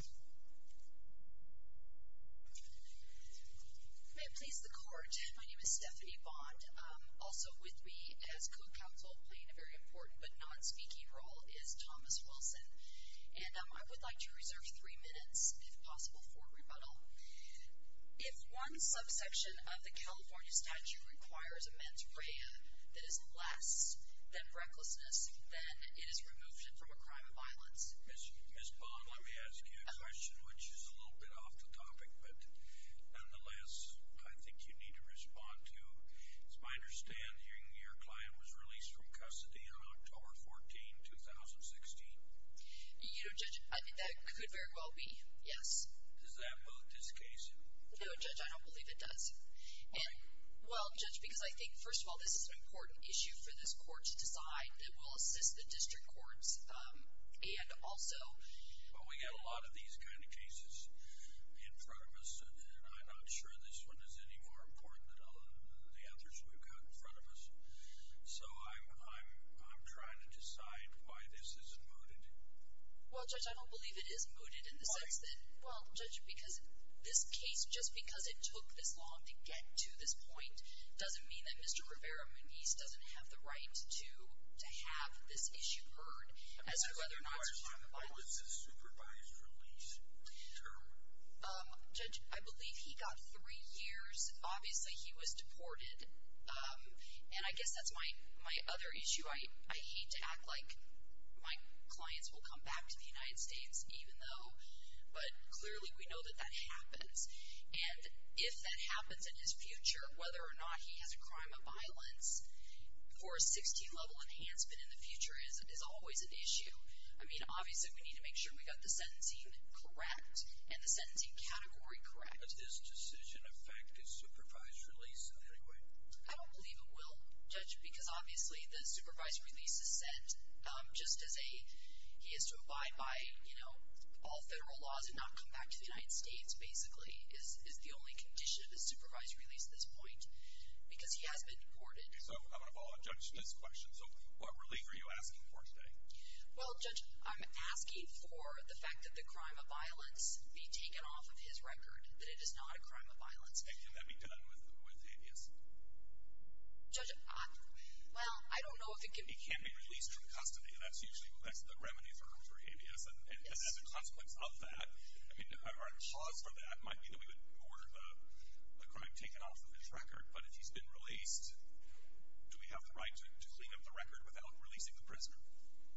I am pleased to court. My name is Stephanie Bond. Also with me as co-counsel, playing a very important but non-speaking role, is Thomas Wilson. And I would like to reserve three minutes, if possible, for rebuttal. If one subsection of the California statute requires a mens rea that is less than recklessness, then it is remotion from a crime of violence. Ms. Bond, let me ask you a question, which is a little bit off the topic, but nonetheless, I think you need to respond to. As I understand, your client was released from custody on October 14, 2016. You know, Judge, I think that could very well be, yes. Does that moot this case? No, Judge, I don't believe it does. And, well, Judge, because I think, first of all, this is an important issue for this court to decide that will assist the district courts and also... Well, we've got a lot of these kind of cases in front of us, and I'm not sure this one is any more important than the others we've got in front of us. So I'm trying to decide why this isn't mooted. Well, Judge, I don't believe it is mooted in the sense that... ...to get to this point doesn't mean that Mr. Rivera-Muniz doesn't have the right to have this issue heard as to whether or not it's a crime of violence. What's the supervised release term? Judge, I believe he got three years. Obviously, he was deported, and I guess that's my other issue. I hate to act like my clients will come back to the United States, even though... But clearly, we know that that happens. And if that happens in his future, whether or not he has a crime of violence or a 16-level enhancement in the future is always an issue. I mean, obviously, we need to make sure we got the sentencing correct and the sentencing category correct. Does this decision affect his supervised release in any way? I don't believe it will, Judge, because obviously the supervised release is set just as a... All federal laws have not come back to the United States, basically, is the only condition of a supervised release at this point, because he has been deported. So, I'm going to follow up Judge Smith's question. So, what relief are you asking for today? Well, Judge, I'm asking for the fact that the crime of violence be taken off of his record, that it is not a crime of violence. And can that be done with habeas? Judge, well, I don't know if it can be... That's usually the remedy for habeas. And as a consequence of that, I mean, our cause for that might be that we would order the crime taken off of his record. But if he's been released, do we have the right to clean up the record without releasing the prisoner?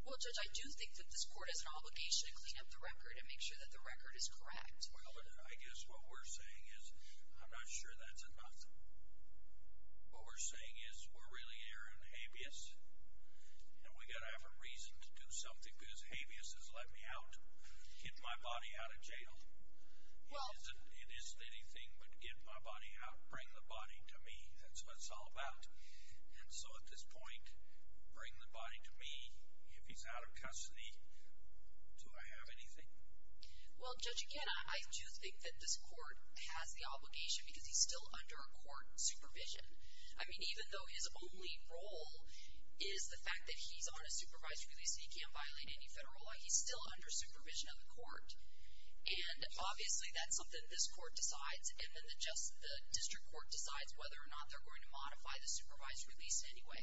Well, Judge, I do think that this court has an obligation to clean up the record and make sure that the record is correct. Well, I guess what we're saying is, I'm not sure that's enough. What we're saying is, we're really airing habeas. And we've got to have a reason to do something, because habeas has let me out, get my body out of jail. It isn't anything but get my body out, bring the body to me. That's what it's all about. And so, at this point, bring the body to me. If he's out of custody, do I have anything? Well, Judge, again, I do think that this court has the obligation, because he's still under a court supervision. I mean, even though his only role is the fact that he's on a supervised release, so he can't violate any federal law, he's still under supervision of the court. And, obviously, that's something this court decides. And then the district court decides whether or not they're going to modify the supervised release anyway.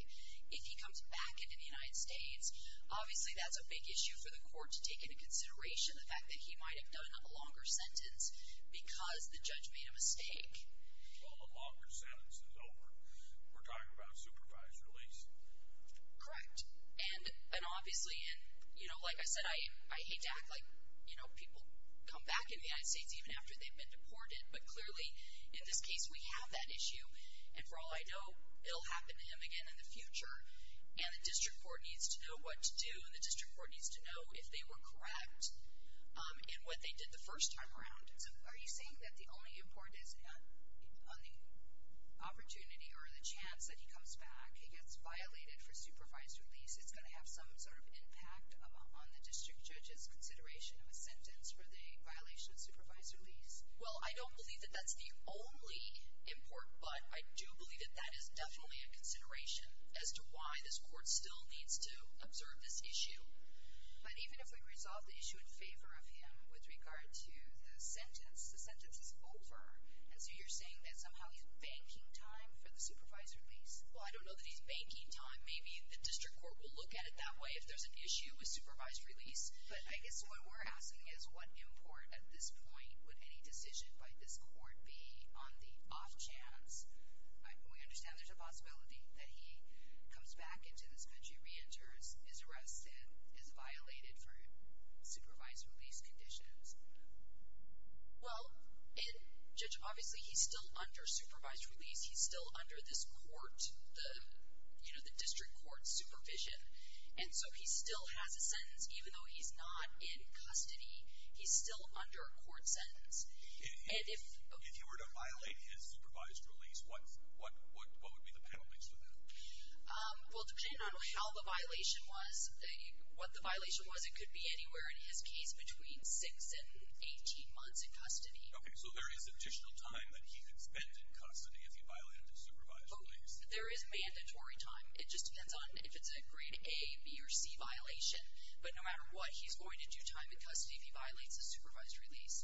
If he comes back into the United States, obviously that's a big issue for the court to take into consideration, the fact that he might have done a longer sentence because the judge made a mistake. Well, a longer sentence is over. We're talking about a supervised release. Correct. And, obviously, like I said, I hate to act like people come back into the United States even after they've been deported. But, clearly, in this case we have that issue. And, for all I know, it will happen to him again in the future, and the district court needs to know what to do, and the district court needs to know if they were correct in what they did the first time around. So are you saying that the only import is on the opportunity or the chance that he comes back, he gets violated for supervised release, it's going to have some sort of impact on the district judge's consideration of a sentence for the violation of supervised release? Well, I don't believe that that's the only import, but I do believe that that is definitely a consideration as to why this court still needs to observe this issue. But even if we resolve the issue in favor of him with regard to the sentence, the sentence is over. And so you're saying that somehow he's banking time for the supervised release? Well, I don't know that he's banking time. Maybe the district court will look at it that way if there's an issue with supervised release. But I guess what we're asking is what import at this point would any decision by this court be on the off chance, we understand there's a possibility that he comes back into this country, reenters, is arrested, is violated for supervised release conditions. Well, Judge, obviously he's still under supervised release. He's still under this court, you know, the district court supervision. And so he still has a sentence even though he's not in custody. He's still under a court sentence. And if you were to violate his supervised release, what would be the penalties for that? Well, depending on how the violation was, what the violation was, it could be anywhere in his case between six and 18 months in custody. Okay, so there is additional time that he could spend in custody if he violated his supervised release. There is mandatory time. It just depends on if it's a grade A, B, or C violation. But no matter what, he's going to do time in custody if he violates his supervised release.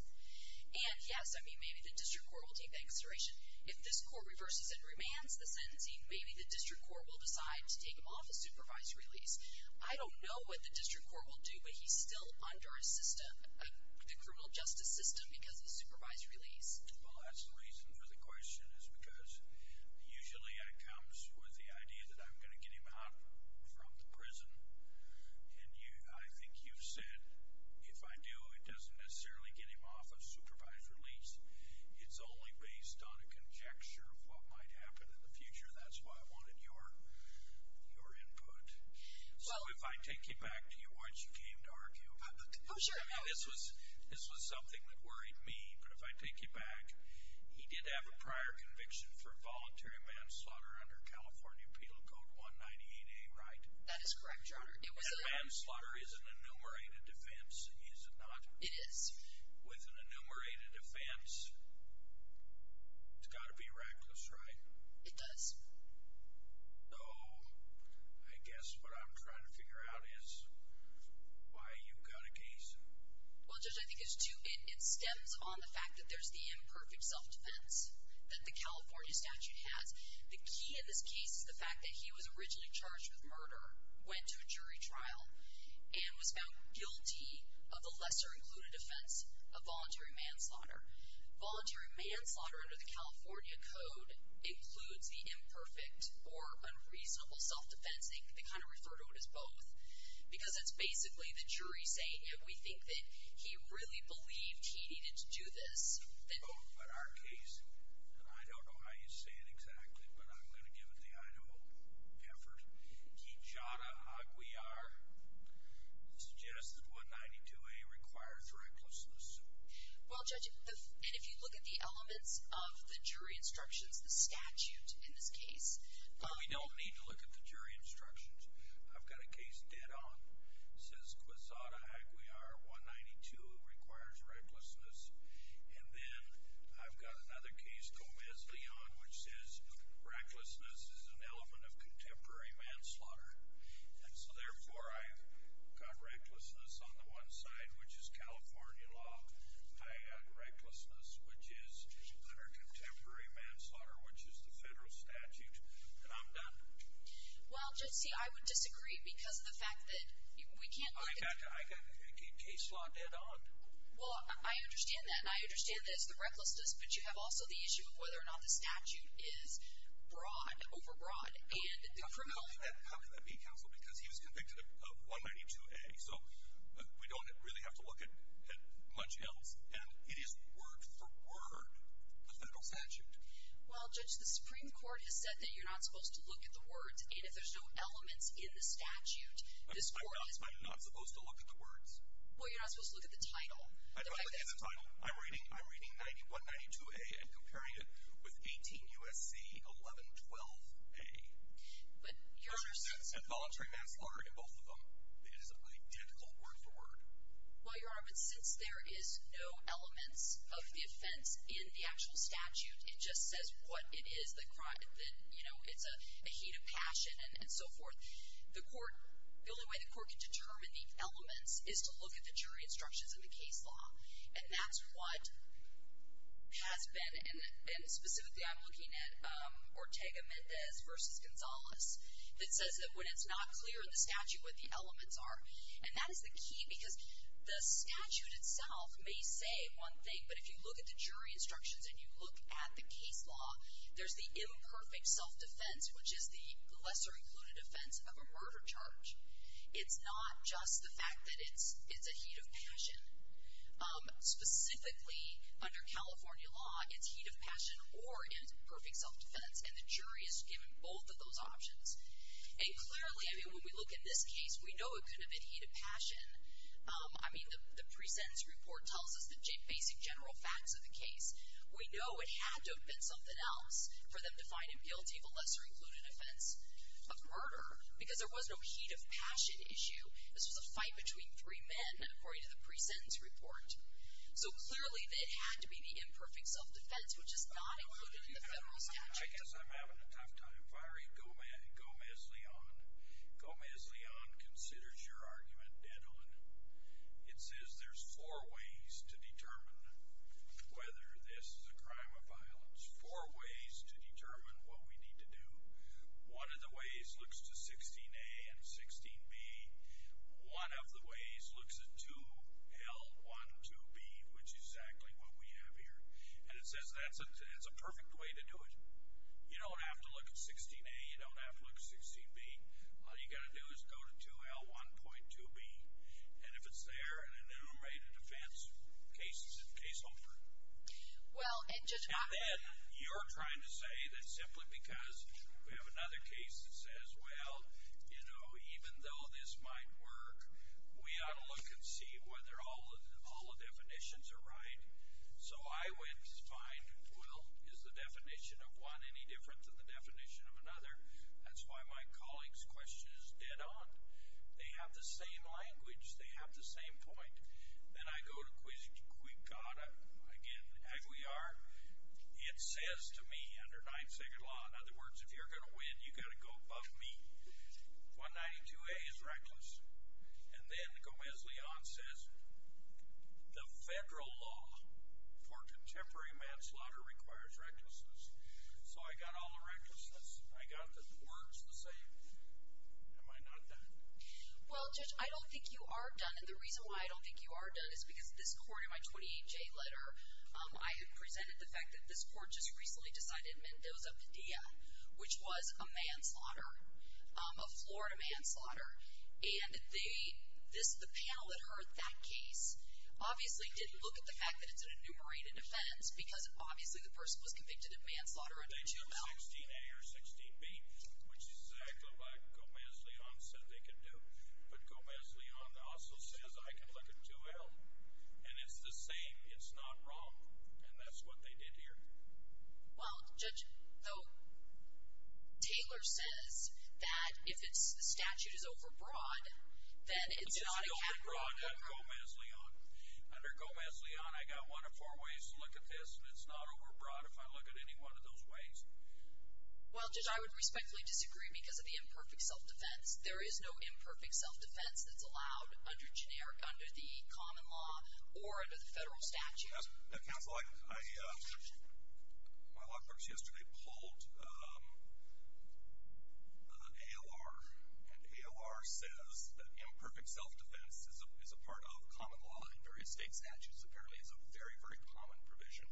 And, yes, I mean, maybe the district court will take that consideration. If this court reverses and remands the sentencing, maybe the district court will decide to take him off of supervised release. I don't know what the district court will do, but he's still under a system, the criminal justice system because of supervised release. Well, that's the reason for the question is because usually I come with the idea that I'm going to get him out from the prison. And I think you've said if I do, it doesn't necessarily get him off of supervised release. It's only based on a conjecture of what might happen in the future. That's why I wanted your input. So if I take you back to what you came to argue about, I mean, this was something that worried me. But if I take you back, he did have a prior conviction for voluntary manslaughter under California Penal Code 198A, right? That is correct, Your Honor. And manslaughter is an enumerated offense, is it not? It is. With an enumerated offense, it's got to be reckless, right? It does. So I guess what I'm trying to figure out is why you got a case. Well, Judge, I think it stems on the fact that there's the imperfect self-defense that the California statute has. The key in this case is the fact that he was originally charged with murder, went to a jury trial, and was found guilty of the lesser included offense of voluntary manslaughter. Voluntary manslaughter under the California Code includes the imperfect or unreasonable self-defense. I think they kind of refer to it as both because it's basically the jury saying, if we think that he really believed he needed to do this. Oh, but our case, and I don't know how you say it exactly, but I'm going to give it the Idaho pepper. Kijada Aguiar suggests that 192A requires recklessness. Well, Judge, and if you look at the elements of the jury instructions, the statute in this case. We don't need to look at the jury instructions. I've got a case dead on. It says Kijada Aguiar, 192, requires recklessness. And then I've got another case, Gomez Leon, which says recklessness is an element of contemporary manslaughter. And so, therefore, I've got recklessness on the one side, which is California law. I've got recklessness, which is under contemporary manslaughter, which is the federal statute. And I'm done. Well, Judge, see, I would disagree because of the fact that we can't be... I've got a case law dead on. Well, I understand that, and I understand that it's the recklessness, but you have also the issue of whether or not the statute is broad, overbroad, and criminal. How can that be, Counsel? Because he was convicted of 192A, so we don't really have to look at much else. And it is word for word the federal statute. Well, Judge, the Supreme Court has said that you're not supposed to look at the words, and if there's no elements in the statute, this Court... I'm not supposed to look at the words? Well, you're not supposed to look at the title. I'm not looking at the title. I'm reading 192A and comparing it with 18 U.S.C. 1112A. But, Your Honor... There's no sense in voluntary manslaughter in both of them. It is identical word for word. Well, Your Honor, but since there is no elements of the offense in the actual statute, it just says what it is, that, you know, it's a heat of passion and so forth, the Court... the only way the Court can determine the elements is to look at the jury instructions in the case law. And that's what has been... that says that when it's not clear in the statute what the elements are. And that is the key because the statute itself may say one thing, but if you look at the jury instructions and you look at the case law, there's the imperfect self-defense, which is the lesser included offense of a murder charge. It's not just the fact that it's a heat of passion. Specifically, under California law, it's heat of passion or imperfect self-defense, and the jury is given both of those options. And clearly, I mean, when we look at this case, we know it could have been heat of passion. I mean, the pre-sentence report tells us the basic general facts of the case. We know it had to have been something else for them to find him guilty of a lesser included offense of murder because there was no heat of passion issue. This was a fight between three men, according to the pre-sentence report. So clearly, it had to be the imperfect self-defense, which is not included in the federal statute. I'm having a tough time. Vyrie Gomez-Leon. Gomez-Leon considers your argument dead on. It says there's four ways to determine whether this is a crime of violence, four ways to determine what we need to do. One of the ways looks to 16A and 16B. One of the ways looks at 2L12B, which is exactly what we have here. And it says that's a perfect way to do it. You don't have to look at 16A. You don't have to look at 16B. All you've got to do is go to 2L1.2B. And if it's there, an enumerated offense case is a case open. And then you're trying to say that simply because we have another case that says, well, you know, even though this might work, we ought to look and see whether all the definitions are right. So I would find, well, is the definition of one any different than the definition of another? That's why my colleague's question is dead on. They have the same language. They have the same point. Then I go to Quigada, again, as we are. It says to me under Ninth Circuit law, in other words, if you're going to win, you've got to go above me. 192A is reckless. And then Gomez-Leon says the federal law for contemporary manslaughter requires recklessness. So I got all the recklessness. I got the words the same. Am I not done? Well, Judge, I don't think you are done. And the reason why I don't think you are done is because this court in my 28-J letter, I had presented the fact that this court just recently decided Mendoza Medea, which was a manslaughter, a Florida manslaughter. And the panel that heard that case obviously didn't look at the fact that it's an enumerated offense because obviously the person was convicted of manslaughter under 2L. They took 16A or 16B, which is exactly what Gomez-Leon said they could do. But Gomez-Leon also says I can look at 2L. And it's the same. It's not wrong. And that's what they did here. Well, Judge, though Taylor says that if the statute is overbroad, then it's not a category. It's not overbroad under Gomez-Leon. Under Gomez-Leon, I've got one of four ways to look at this, and it's not overbroad if I look at any one of those ways. Well, Judge, I would respectfully disagree because of the imperfect self-defense. There is no imperfect self-defense that's allowed under the common law or under the federal statute. Counsel, my law clerks yesterday polled ALR, and ALR says that imperfect self-defense is a part of common law in various state statutes. Apparently it's a very, very common provision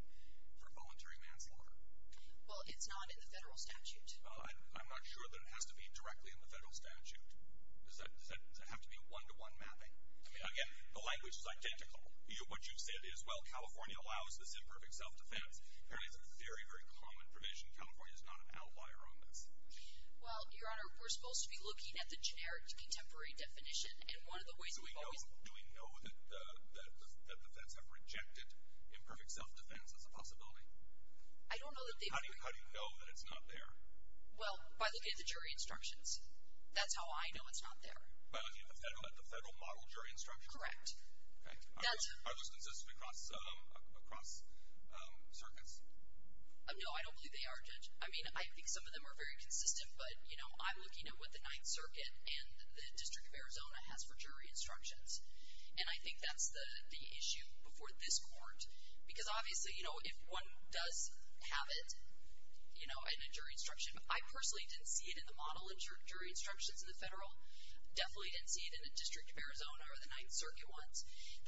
for voluntary manslaughter. Well, it's not in the federal statute. Well, I'm not sure that it has to be directly in the federal statute. Does that have to be a one-to-one mapping? I mean, again, the language is identical. What you said is, well, California allows this imperfect self-defense. Apparently it's a very, very common provision. California is not an outlier on this. Well, Your Honor, we're supposed to be looking at the generic contemporary definition. And one of the ways we've always— Do we know that the feds have rejected imperfect self-defense as a possibility? I don't know that they've— How do you know that it's not there? Well, by looking at the jury instructions. That's how I know it's not there. By looking at the federal model jury instructions? Correct. Okay. Are those consistent across circuits? No, I don't believe they are, Judge. I mean, I think some of them are very consistent, but, you know, I'm looking at what the Ninth Circuit and the District of Arizona has for jury instructions. And I think that's the issue before this Court. Because, obviously, you know, if one does have it, you know, in a jury instruction— I personally didn't see it in the model jury instructions in the federal. Definitely didn't see it in the District of Arizona or the Ninth Circuit ones.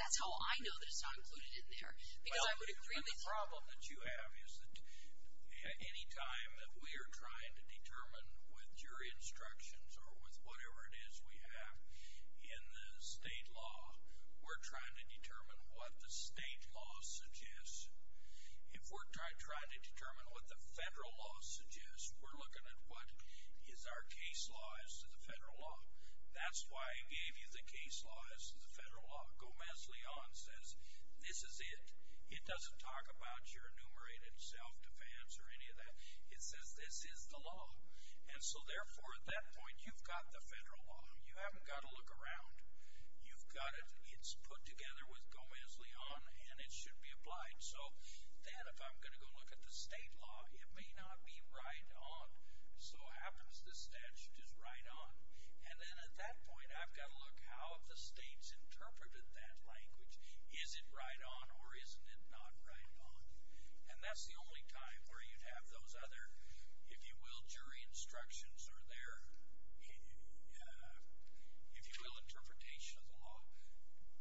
That's how I know that it's not included in there. Because I would agree with— Well, the problem that you have is that any time that we are trying to determine with jury instructions or with whatever it is we have in the state law, we're trying to determine what the state law suggests. If we're trying to determine what the federal law suggests, we're looking at what is our case law as to the federal law. That's why I gave you the case law as to the federal law. Gomez-Leon says this is it. It doesn't talk about your enumerated self-defense or any of that. It says this is the law. And so, therefore, at that point, you've got the federal law. You haven't got to look around. You've got it. It's put together with Gomez-Leon, and it should be applied. So then if I'm going to go look at the state law, it may not be right on. So what happens to that? Should it be right on? And then at that point, I've got to look how the state's interpreted that language. Is it right on or isn't it not right on? And that's the only time where you'd have those other, if you will, jury instructions are there. If you will, interpretation of the law.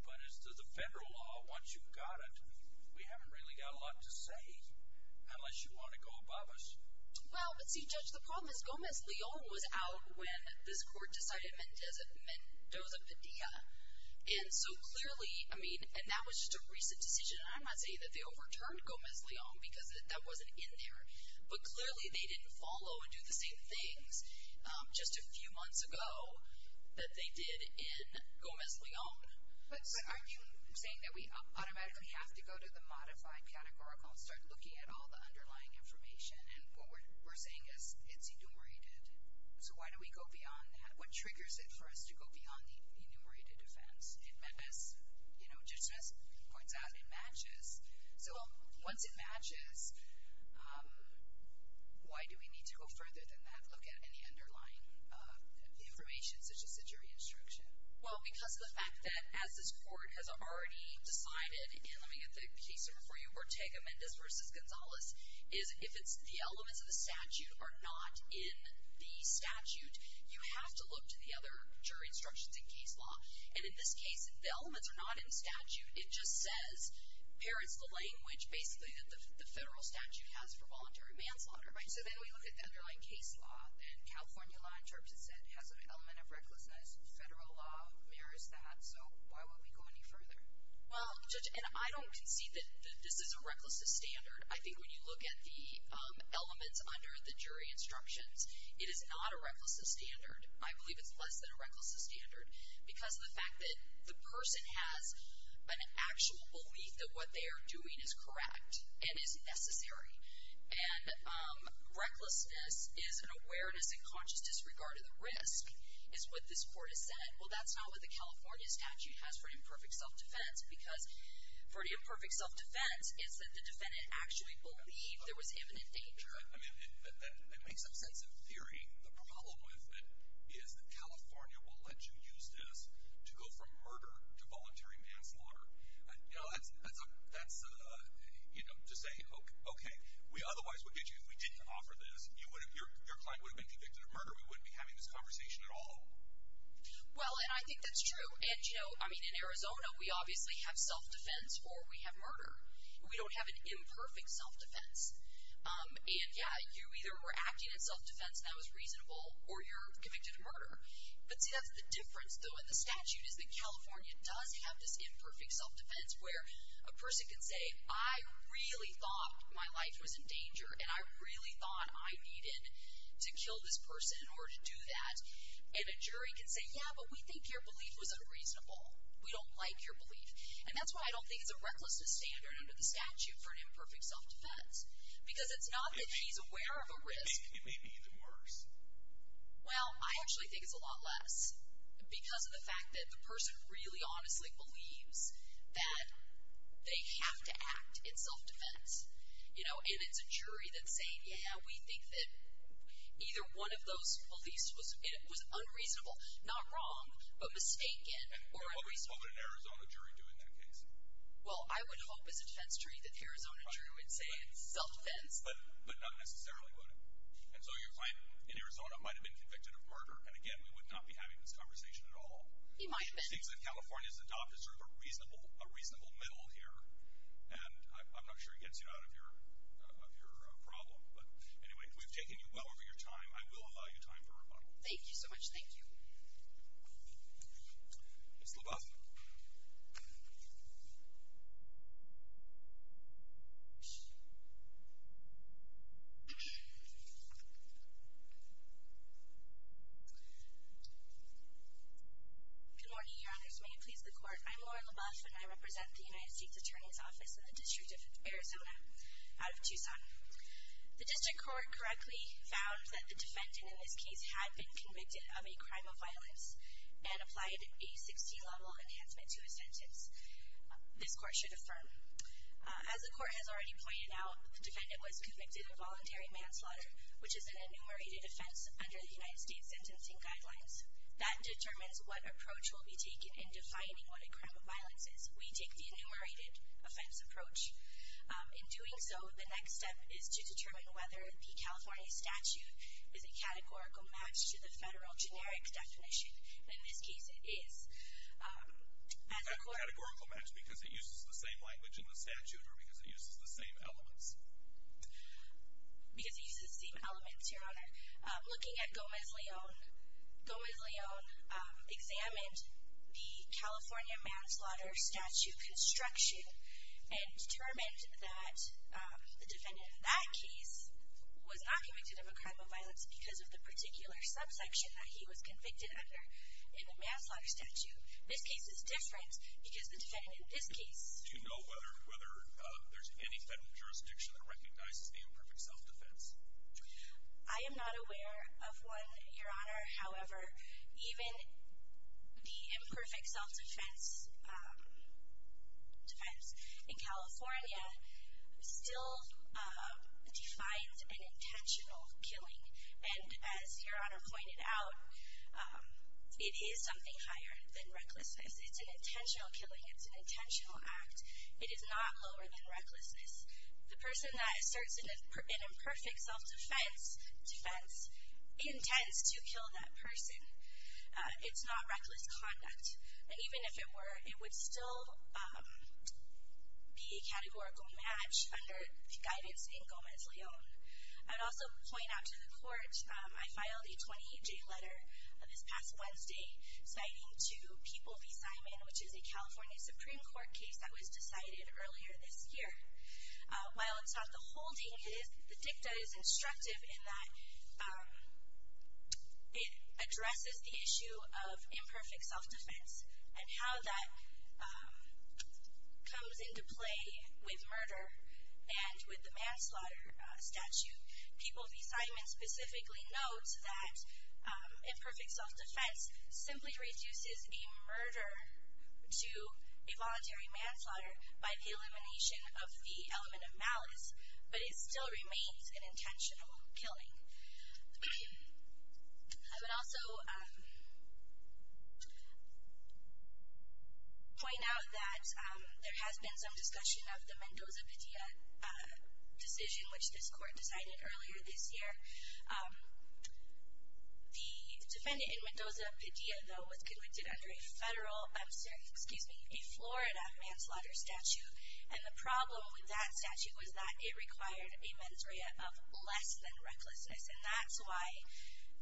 But as to the federal law, once you've got it, we haven't really got a lot to say unless you want to go above us. Well, but see, Judge, the problem is Gomez-Leon was out when this court decided Mendoza-Padilla. And so clearly, I mean, and that was just a recent decision. I'm not saying that they overturned Gomez-Leon because that wasn't in there. But clearly, they didn't follow and do the same things. Just a few months ago that they did in Gomez-Leon. But I'm saying that we automatically have to go to the modified categorical and start looking at all the underlying information. And what we're saying is it's enumerated. So why don't we go beyond that? What triggers it for us to go beyond the enumerated defense? So once it matches, why do we need to go further than that, look at any underlying information such as the jury instruction? Well, because of the fact that, as this court has already decided, and let me get the case over for you, Ortega-Mendez v. Gonzalez, is if it's the elements of the statute are not in the statute, you have to look to the other jury instructions in case law. And in this case, the elements are not in the statute. It just says, parrots the language, basically, that the federal statute has for voluntary manslaughter. So then we look at the underlying case law. And California law, in terms of said, has an element of recklessness. Federal law mirrors that. So why won't we go any further? Well, Judge, and I don't concede that this is a recklessness standard. I think when you look at the elements under the jury instructions, it is not a recklessness standard. I believe it's less than a recklessness standard because of the fact that the person has an actual belief that what they are doing is correct and is necessary. And recklessness is an awareness and conscious disregard of the risk, is what this court has said. Well, that's not what the California statute has for imperfect self-defense because for the imperfect self-defense, it's that the defendant actually believed there was imminent danger. I mean, that makes some sense in theory. I mean, the problem with it is that California will let you use this to go from murder to voluntary manslaughter. You know, that's, you know, to say, okay, we otherwise would get you if we didn't offer this. Your client would have been convicted of murder. We wouldn't be having this conversation at all. Well, and I think that's true. And, you know, I mean, in Arizona, we obviously have self-defense or we have murder. We don't have an imperfect self-defense. And, yeah, you either were acting in self-defense and that was reasonable or you're convicted of murder. But, see, that's the difference, though, in the statute, is that California does have this imperfect self-defense where a person can say, I really thought my life was in danger and I really thought I needed to kill this person in order to do that. And a jury can say, yeah, but we think your belief was unreasonable. We don't like your belief. And that's why I don't think it's a recklessness standard under the statute It may be even worse. Well, I actually think it's a lot less because of the fact that the person really honestly believes that they have to act in self-defense. And it's a jury that's saying, yeah, we think that either one of those beliefs was unreasonable, not wrong, but mistaken. What would an Arizona jury do in that case? Well, I would hope as a defense jury that Arizona jury would say self-defense. But none necessarily would. And so your client in Arizona might have been convicted of murder. And, again, we would not be having this conversation at all. He might have been. He thinks that California has adopted sort of a reasonable middle here. And I'm not sure it gets you out of your problem. But, anyway, we've taken you well over your time. I will allow you time for rebuttal. Thank you so much. Thank you. Ms. LaBeouf? Good morning, Your Honors. May it please the Court, I'm Laura LaBeouf, and I represent the United States Attorney's Office in the District of Arizona out of Tucson. The District Court correctly found that the defendant in this case had been convicted of a crime of violence and applied a 60-level enhancement to his sentence. This Court should affirm. As the Court has already pointed out, the defendant was convicted of voluntary manslaughter, which is an enumerated offense under the United States Sentencing Guidelines. That determines what approach will be taken in defining what a crime of violence is. We take the enumerated offense approach. In doing so, the next step is to determine whether the California statute is a categorical match to the federal generic definition. In this case, it is. A categorical match because it uses the same language in the statute or because it uses the same elements? Because it uses the same elements, Your Honor. Looking at Gomez-Leon, Gomez-Leon examined the California manslaughter statute construction and determined that the defendant in that case was not convicted of a crime of violence because of the particular subsection that he was convicted under in the manslaughter statute. This case is different because the defendant in this case Do you know whether there's any federal jurisdiction that recognizes the imperfect self-defense? I am not aware of one, Your Honor. However, even the imperfect self-defense in California still defines an intentional killing. And as Your Honor pointed out, it is something higher than recklessness. It's an intentional killing. It's an intentional act. It is not lower than recklessness. The person that asserts an imperfect self-defense intends to kill that person. It's not reckless conduct. Even if it were, it would still be a categorical match under the guidance in Gomez-Leon. I'd also point out to the Court, I filed a 28-J letter this past Wednesday citing to People v. Simon, which is a California Supreme Court case that was decided earlier this year. While it's not the whole thing, the dicta is instructive in that it addresses the issue of imperfect self-defense and how that comes into play with murder and with the manslaughter statute. People v. Simon specifically notes that imperfect self-defense simply reduces a murder to a voluntary manslaughter by the elimination of the element of malice, but it still remains an intentional killing. I would also point out that there has been some discussion of the Mendoza-Padilla decision, which this Court decided earlier this year. The defendant in Mendoza-Padilla, though, was convicted under a Florida manslaughter statute, and the problem with that statute was that it required a mens rea of less than recklessness, and that's why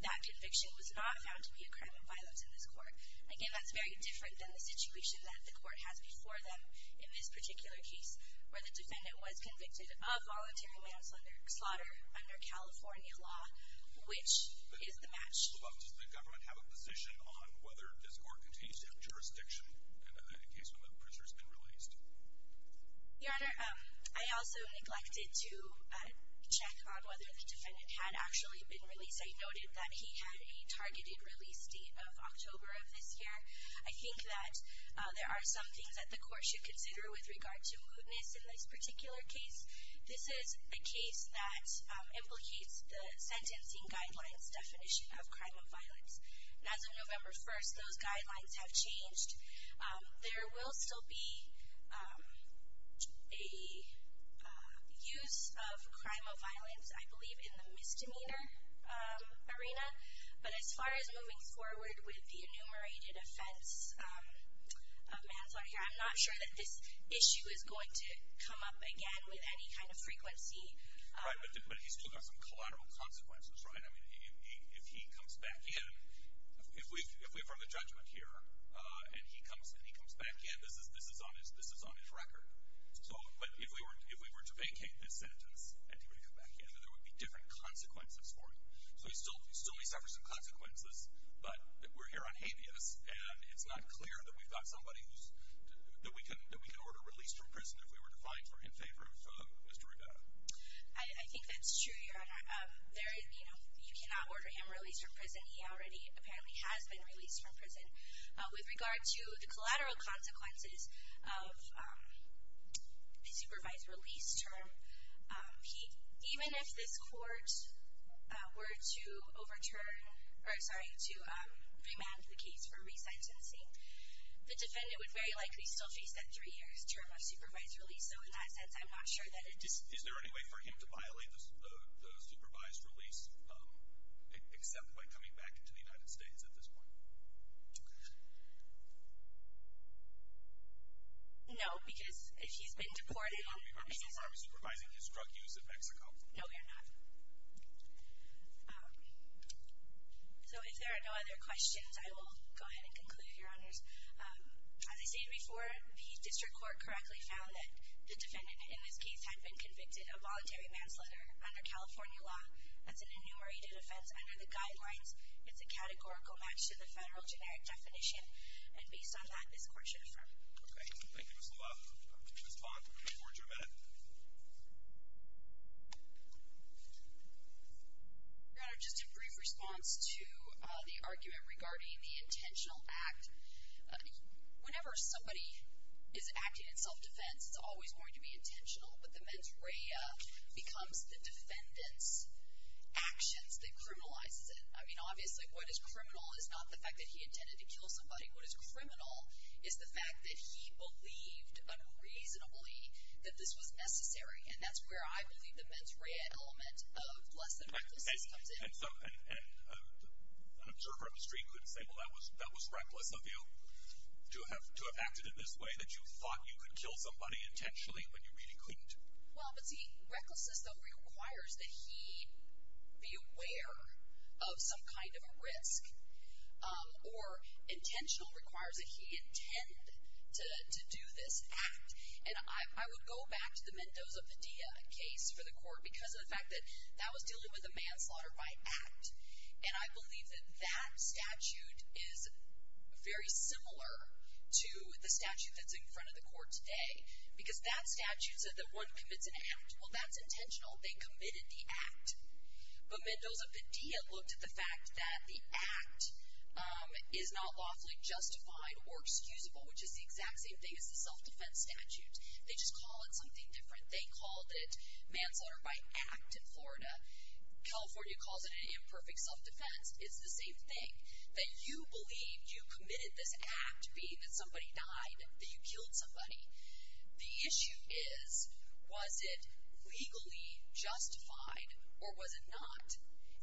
that conviction was not found to be a crime of violence in this Court. Again, that's very different than the situation that the Court has before them in this particular case, where the defendant was convicted of voluntary manslaughter under California law, which is the match. Does the government have a position on whether this Court continues to have jurisdiction in the case when the prisoner's been released? Your Honor, I also neglected to check on whether the defendant had actually been released. I noted that he had a targeted release date of October of this year. I think that there are some things that the Court should consider with regard to mootness in this particular case. This is a case that implicates the sentencing guidelines definition of crime of violence, and as of November 1st, those guidelines have changed. There will still be a use of crime of violence, I believe, in the misdemeanor arena, but as far as moving forward with the enumerated offense of manslaughter here, I'm not sure that this issue is going to come up again with any kind of frequency. Right, but he's still got some collateral consequences, right? I mean, if he comes back in, if we affirm the judgment here and he comes back in, this is on his record. But if we were to vacate this sentence and he were to come back in, there would be different consequences for him. So still he suffers some consequences, but we're here on habeas, and it's not clear that we've got somebody that we can order released from prison if we were to find him in favor of Mr. Rivera. I think that's true, Your Honor. You cannot order him released from prison. He already apparently has been released from prison. With regard to the collateral consequences of the supervised release term, even if this court were to overturn... or, sorry, to remand the case for resentencing, the defendant would very likely still face that three years term of supervised release, so in that sense, I'm not sure that it... Is there any way for him to violate the supervised release except by coming back into the United States at this point? No, because if he's been deported... No, we are not. We are supervising his drug use in Mexico. No, we are not. So if there are no other questions, I will go ahead and conclude, Your Honors. As I stated before, the district court correctly found that the defendant in this case had been convicted of voluntary manslaughter under California law. That's an enumerated offense. Under the guidelines, it's a categorical match to the federal generic definition, and based on that, this court should affirm. Okay. Thank you, Ms. Lovato. Ms. Todd, before you adjourn a minute. Your Honor, just a brief response to the argument regarding the intentional act. Whenever somebody is acting in self-defense, it's always going to be intentional, but the mens rea becomes the defendant's actions that criminalizes it. I mean, obviously, what is criminal is not the fact that he intended to kill somebody. What is criminal is the fact that he believed, unreasonably, that this was necessary, and that's where I believe the mens rea element of less than recklessness comes in. And so an observer on the street could say, well, that was reckless of you to have acted in this way, that you thought you could kill somebody intentionally, when you really couldn't. Well, but see, recklessness, though, requires that he be aware of some kind of a risk, or intentional requires that he intend to do this act. And I would go back to the Mendoza Padilla case for the court because of the fact that that was dealing with a manslaughter by act, and I believe that that statute is very similar to the statute that's in front of the court today because that statute said that one commits an act. Well, that's intentional. They committed the act. But Mendoza Padilla looked at the fact that the act is not lawfully justified or excusable, which is the exact same thing as the self-defense statute. They just call it something different. They called it manslaughter by act in Florida. California calls it an imperfect self-defense. It's the same thing, that you believed you committed this act, being that somebody died, that you killed somebody. The issue is, was it legally justified or was it not?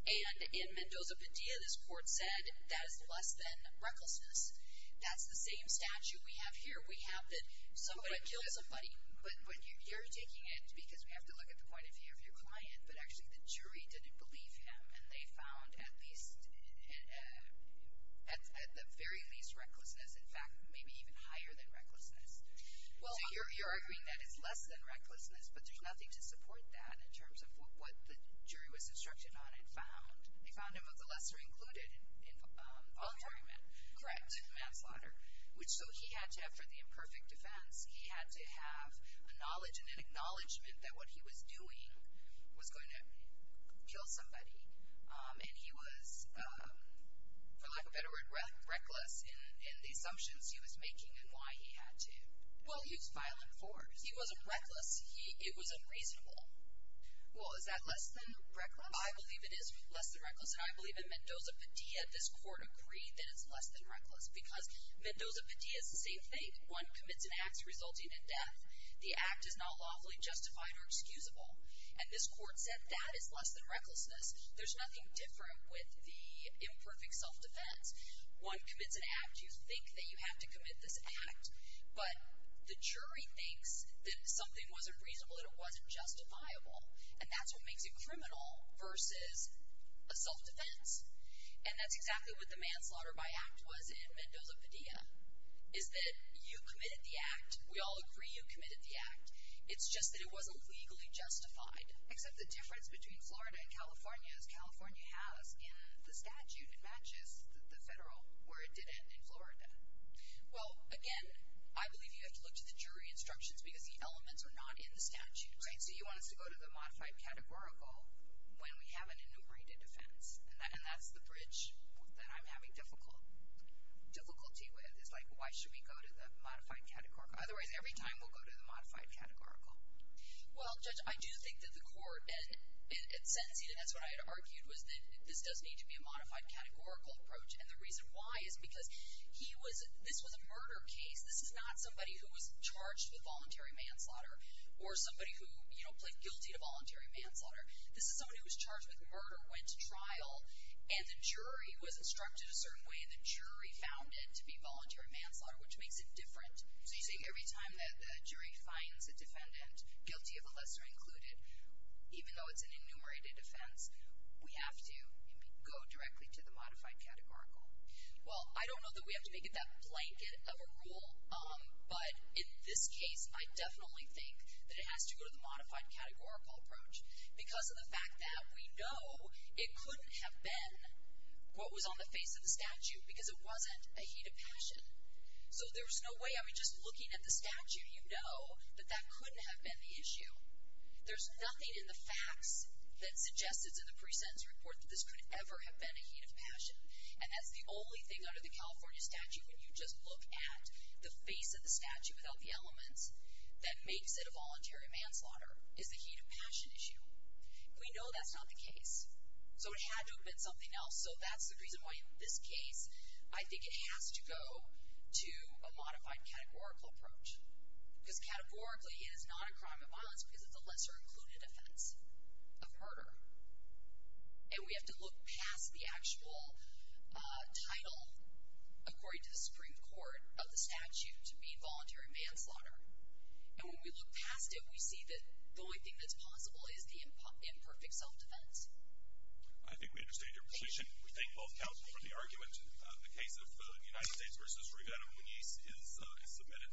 And in Mendoza Padilla, this court said that is less than recklessness. That's the same statute we have here. We have that somebody killed somebody. But you're taking it because we have to look at the point of view of your client, but actually the jury didn't believe him, and they found at the very least recklessness, in fact, maybe even higher than recklessness. So you're arguing that it's less than recklessness, but there's nothing to support that in terms of what the jury was instructed on and found. They found him of the lesser included in all three men. Correct. Manslaughter. So he had to have, for the imperfect defense, he had to have a knowledge and an acknowledgment that what he was doing was going to kill somebody, and he was, for lack of a better word, reckless in the assumptions he was making and why he had to. Well, he was violent for it. He wasn't reckless. It was unreasonable. Well, is that less than reckless? I believe it is less than reckless, and I believe in Mendoza Padilla this court agreed that it's less than reckless because Mendoza Padilla is the same thing. One commits an act resulting in death. The act is not lawfully justified or excusable. And this court said that is less than recklessness. There's nothing different with the imperfect self-defense. One commits an act, you think that you have to commit this act, but the jury thinks that something wasn't reasonable, that it wasn't justifiable, and that's what makes it criminal versus a self-defense. And that's exactly what the manslaughter by act was in Mendoza Padilla, is that you committed the act, we all agree you committed the act, it's just that it wasn't legally justified. Except the difference between Florida and California is California has in the statute it matches the federal where it did it in Florida. Well, again, I believe you have to look to the jury instructions because the elements are not in the statute. Right, so you want us to go to the modified categorical when we have an enumerated offense, and that's the bridge that I'm having difficulty with, is like why should we go to the modified categorical? Otherwise, every time we'll go to the modified categorical. Well, Judge, I do think that the court, and sentencing, and that's what I had argued, was that this does need to be a modified categorical approach, and the reason why is because this was a murder case, this is not somebody who was charged with voluntary manslaughter or somebody who, you know, plead guilty to voluntary manslaughter. This is someone who was charged with murder, went to trial, and the jury was instructed a certain way, and the jury found it to be voluntary manslaughter, which makes it different. So you say every time the jury finds a defendant, guilty of the lesser included, even though it's an enumerated offense, we have to go directly to the modified categorical. Well, I don't know that we have to make it that blanket of a rule, but in this case, I definitely think that it has to go to the modified categorical approach because of the fact that we know it couldn't have been what was on the face of the statute because it wasn't a heat of passion. So there's no way, I mean, just looking at the statute, you know that that couldn't have been the issue. There's nothing in the facts that suggests it's in the pre-sentence report that this could ever have been a heat of passion, and that's the only thing under the California statute when you just look at the face of the statute without the elements that makes it a voluntary manslaughter is the heat of passion issue. We know that's not the case, so it had to have been something else. So that's the reason why in this case, I think it has to go to a modified categorical approach because categorically it is not a crime of violence because it's a lesser-included offense of murder. And we have to look past the actual title, according to the Supreme Court of the statute, to be voluntary manslaughter. And when we look past it, we see that the only thing that's possible is the imperfect self-defense. I think we understand your position. We thank both counsel for the argument. The case of the United States v. Rivera-Muñiz is submitted.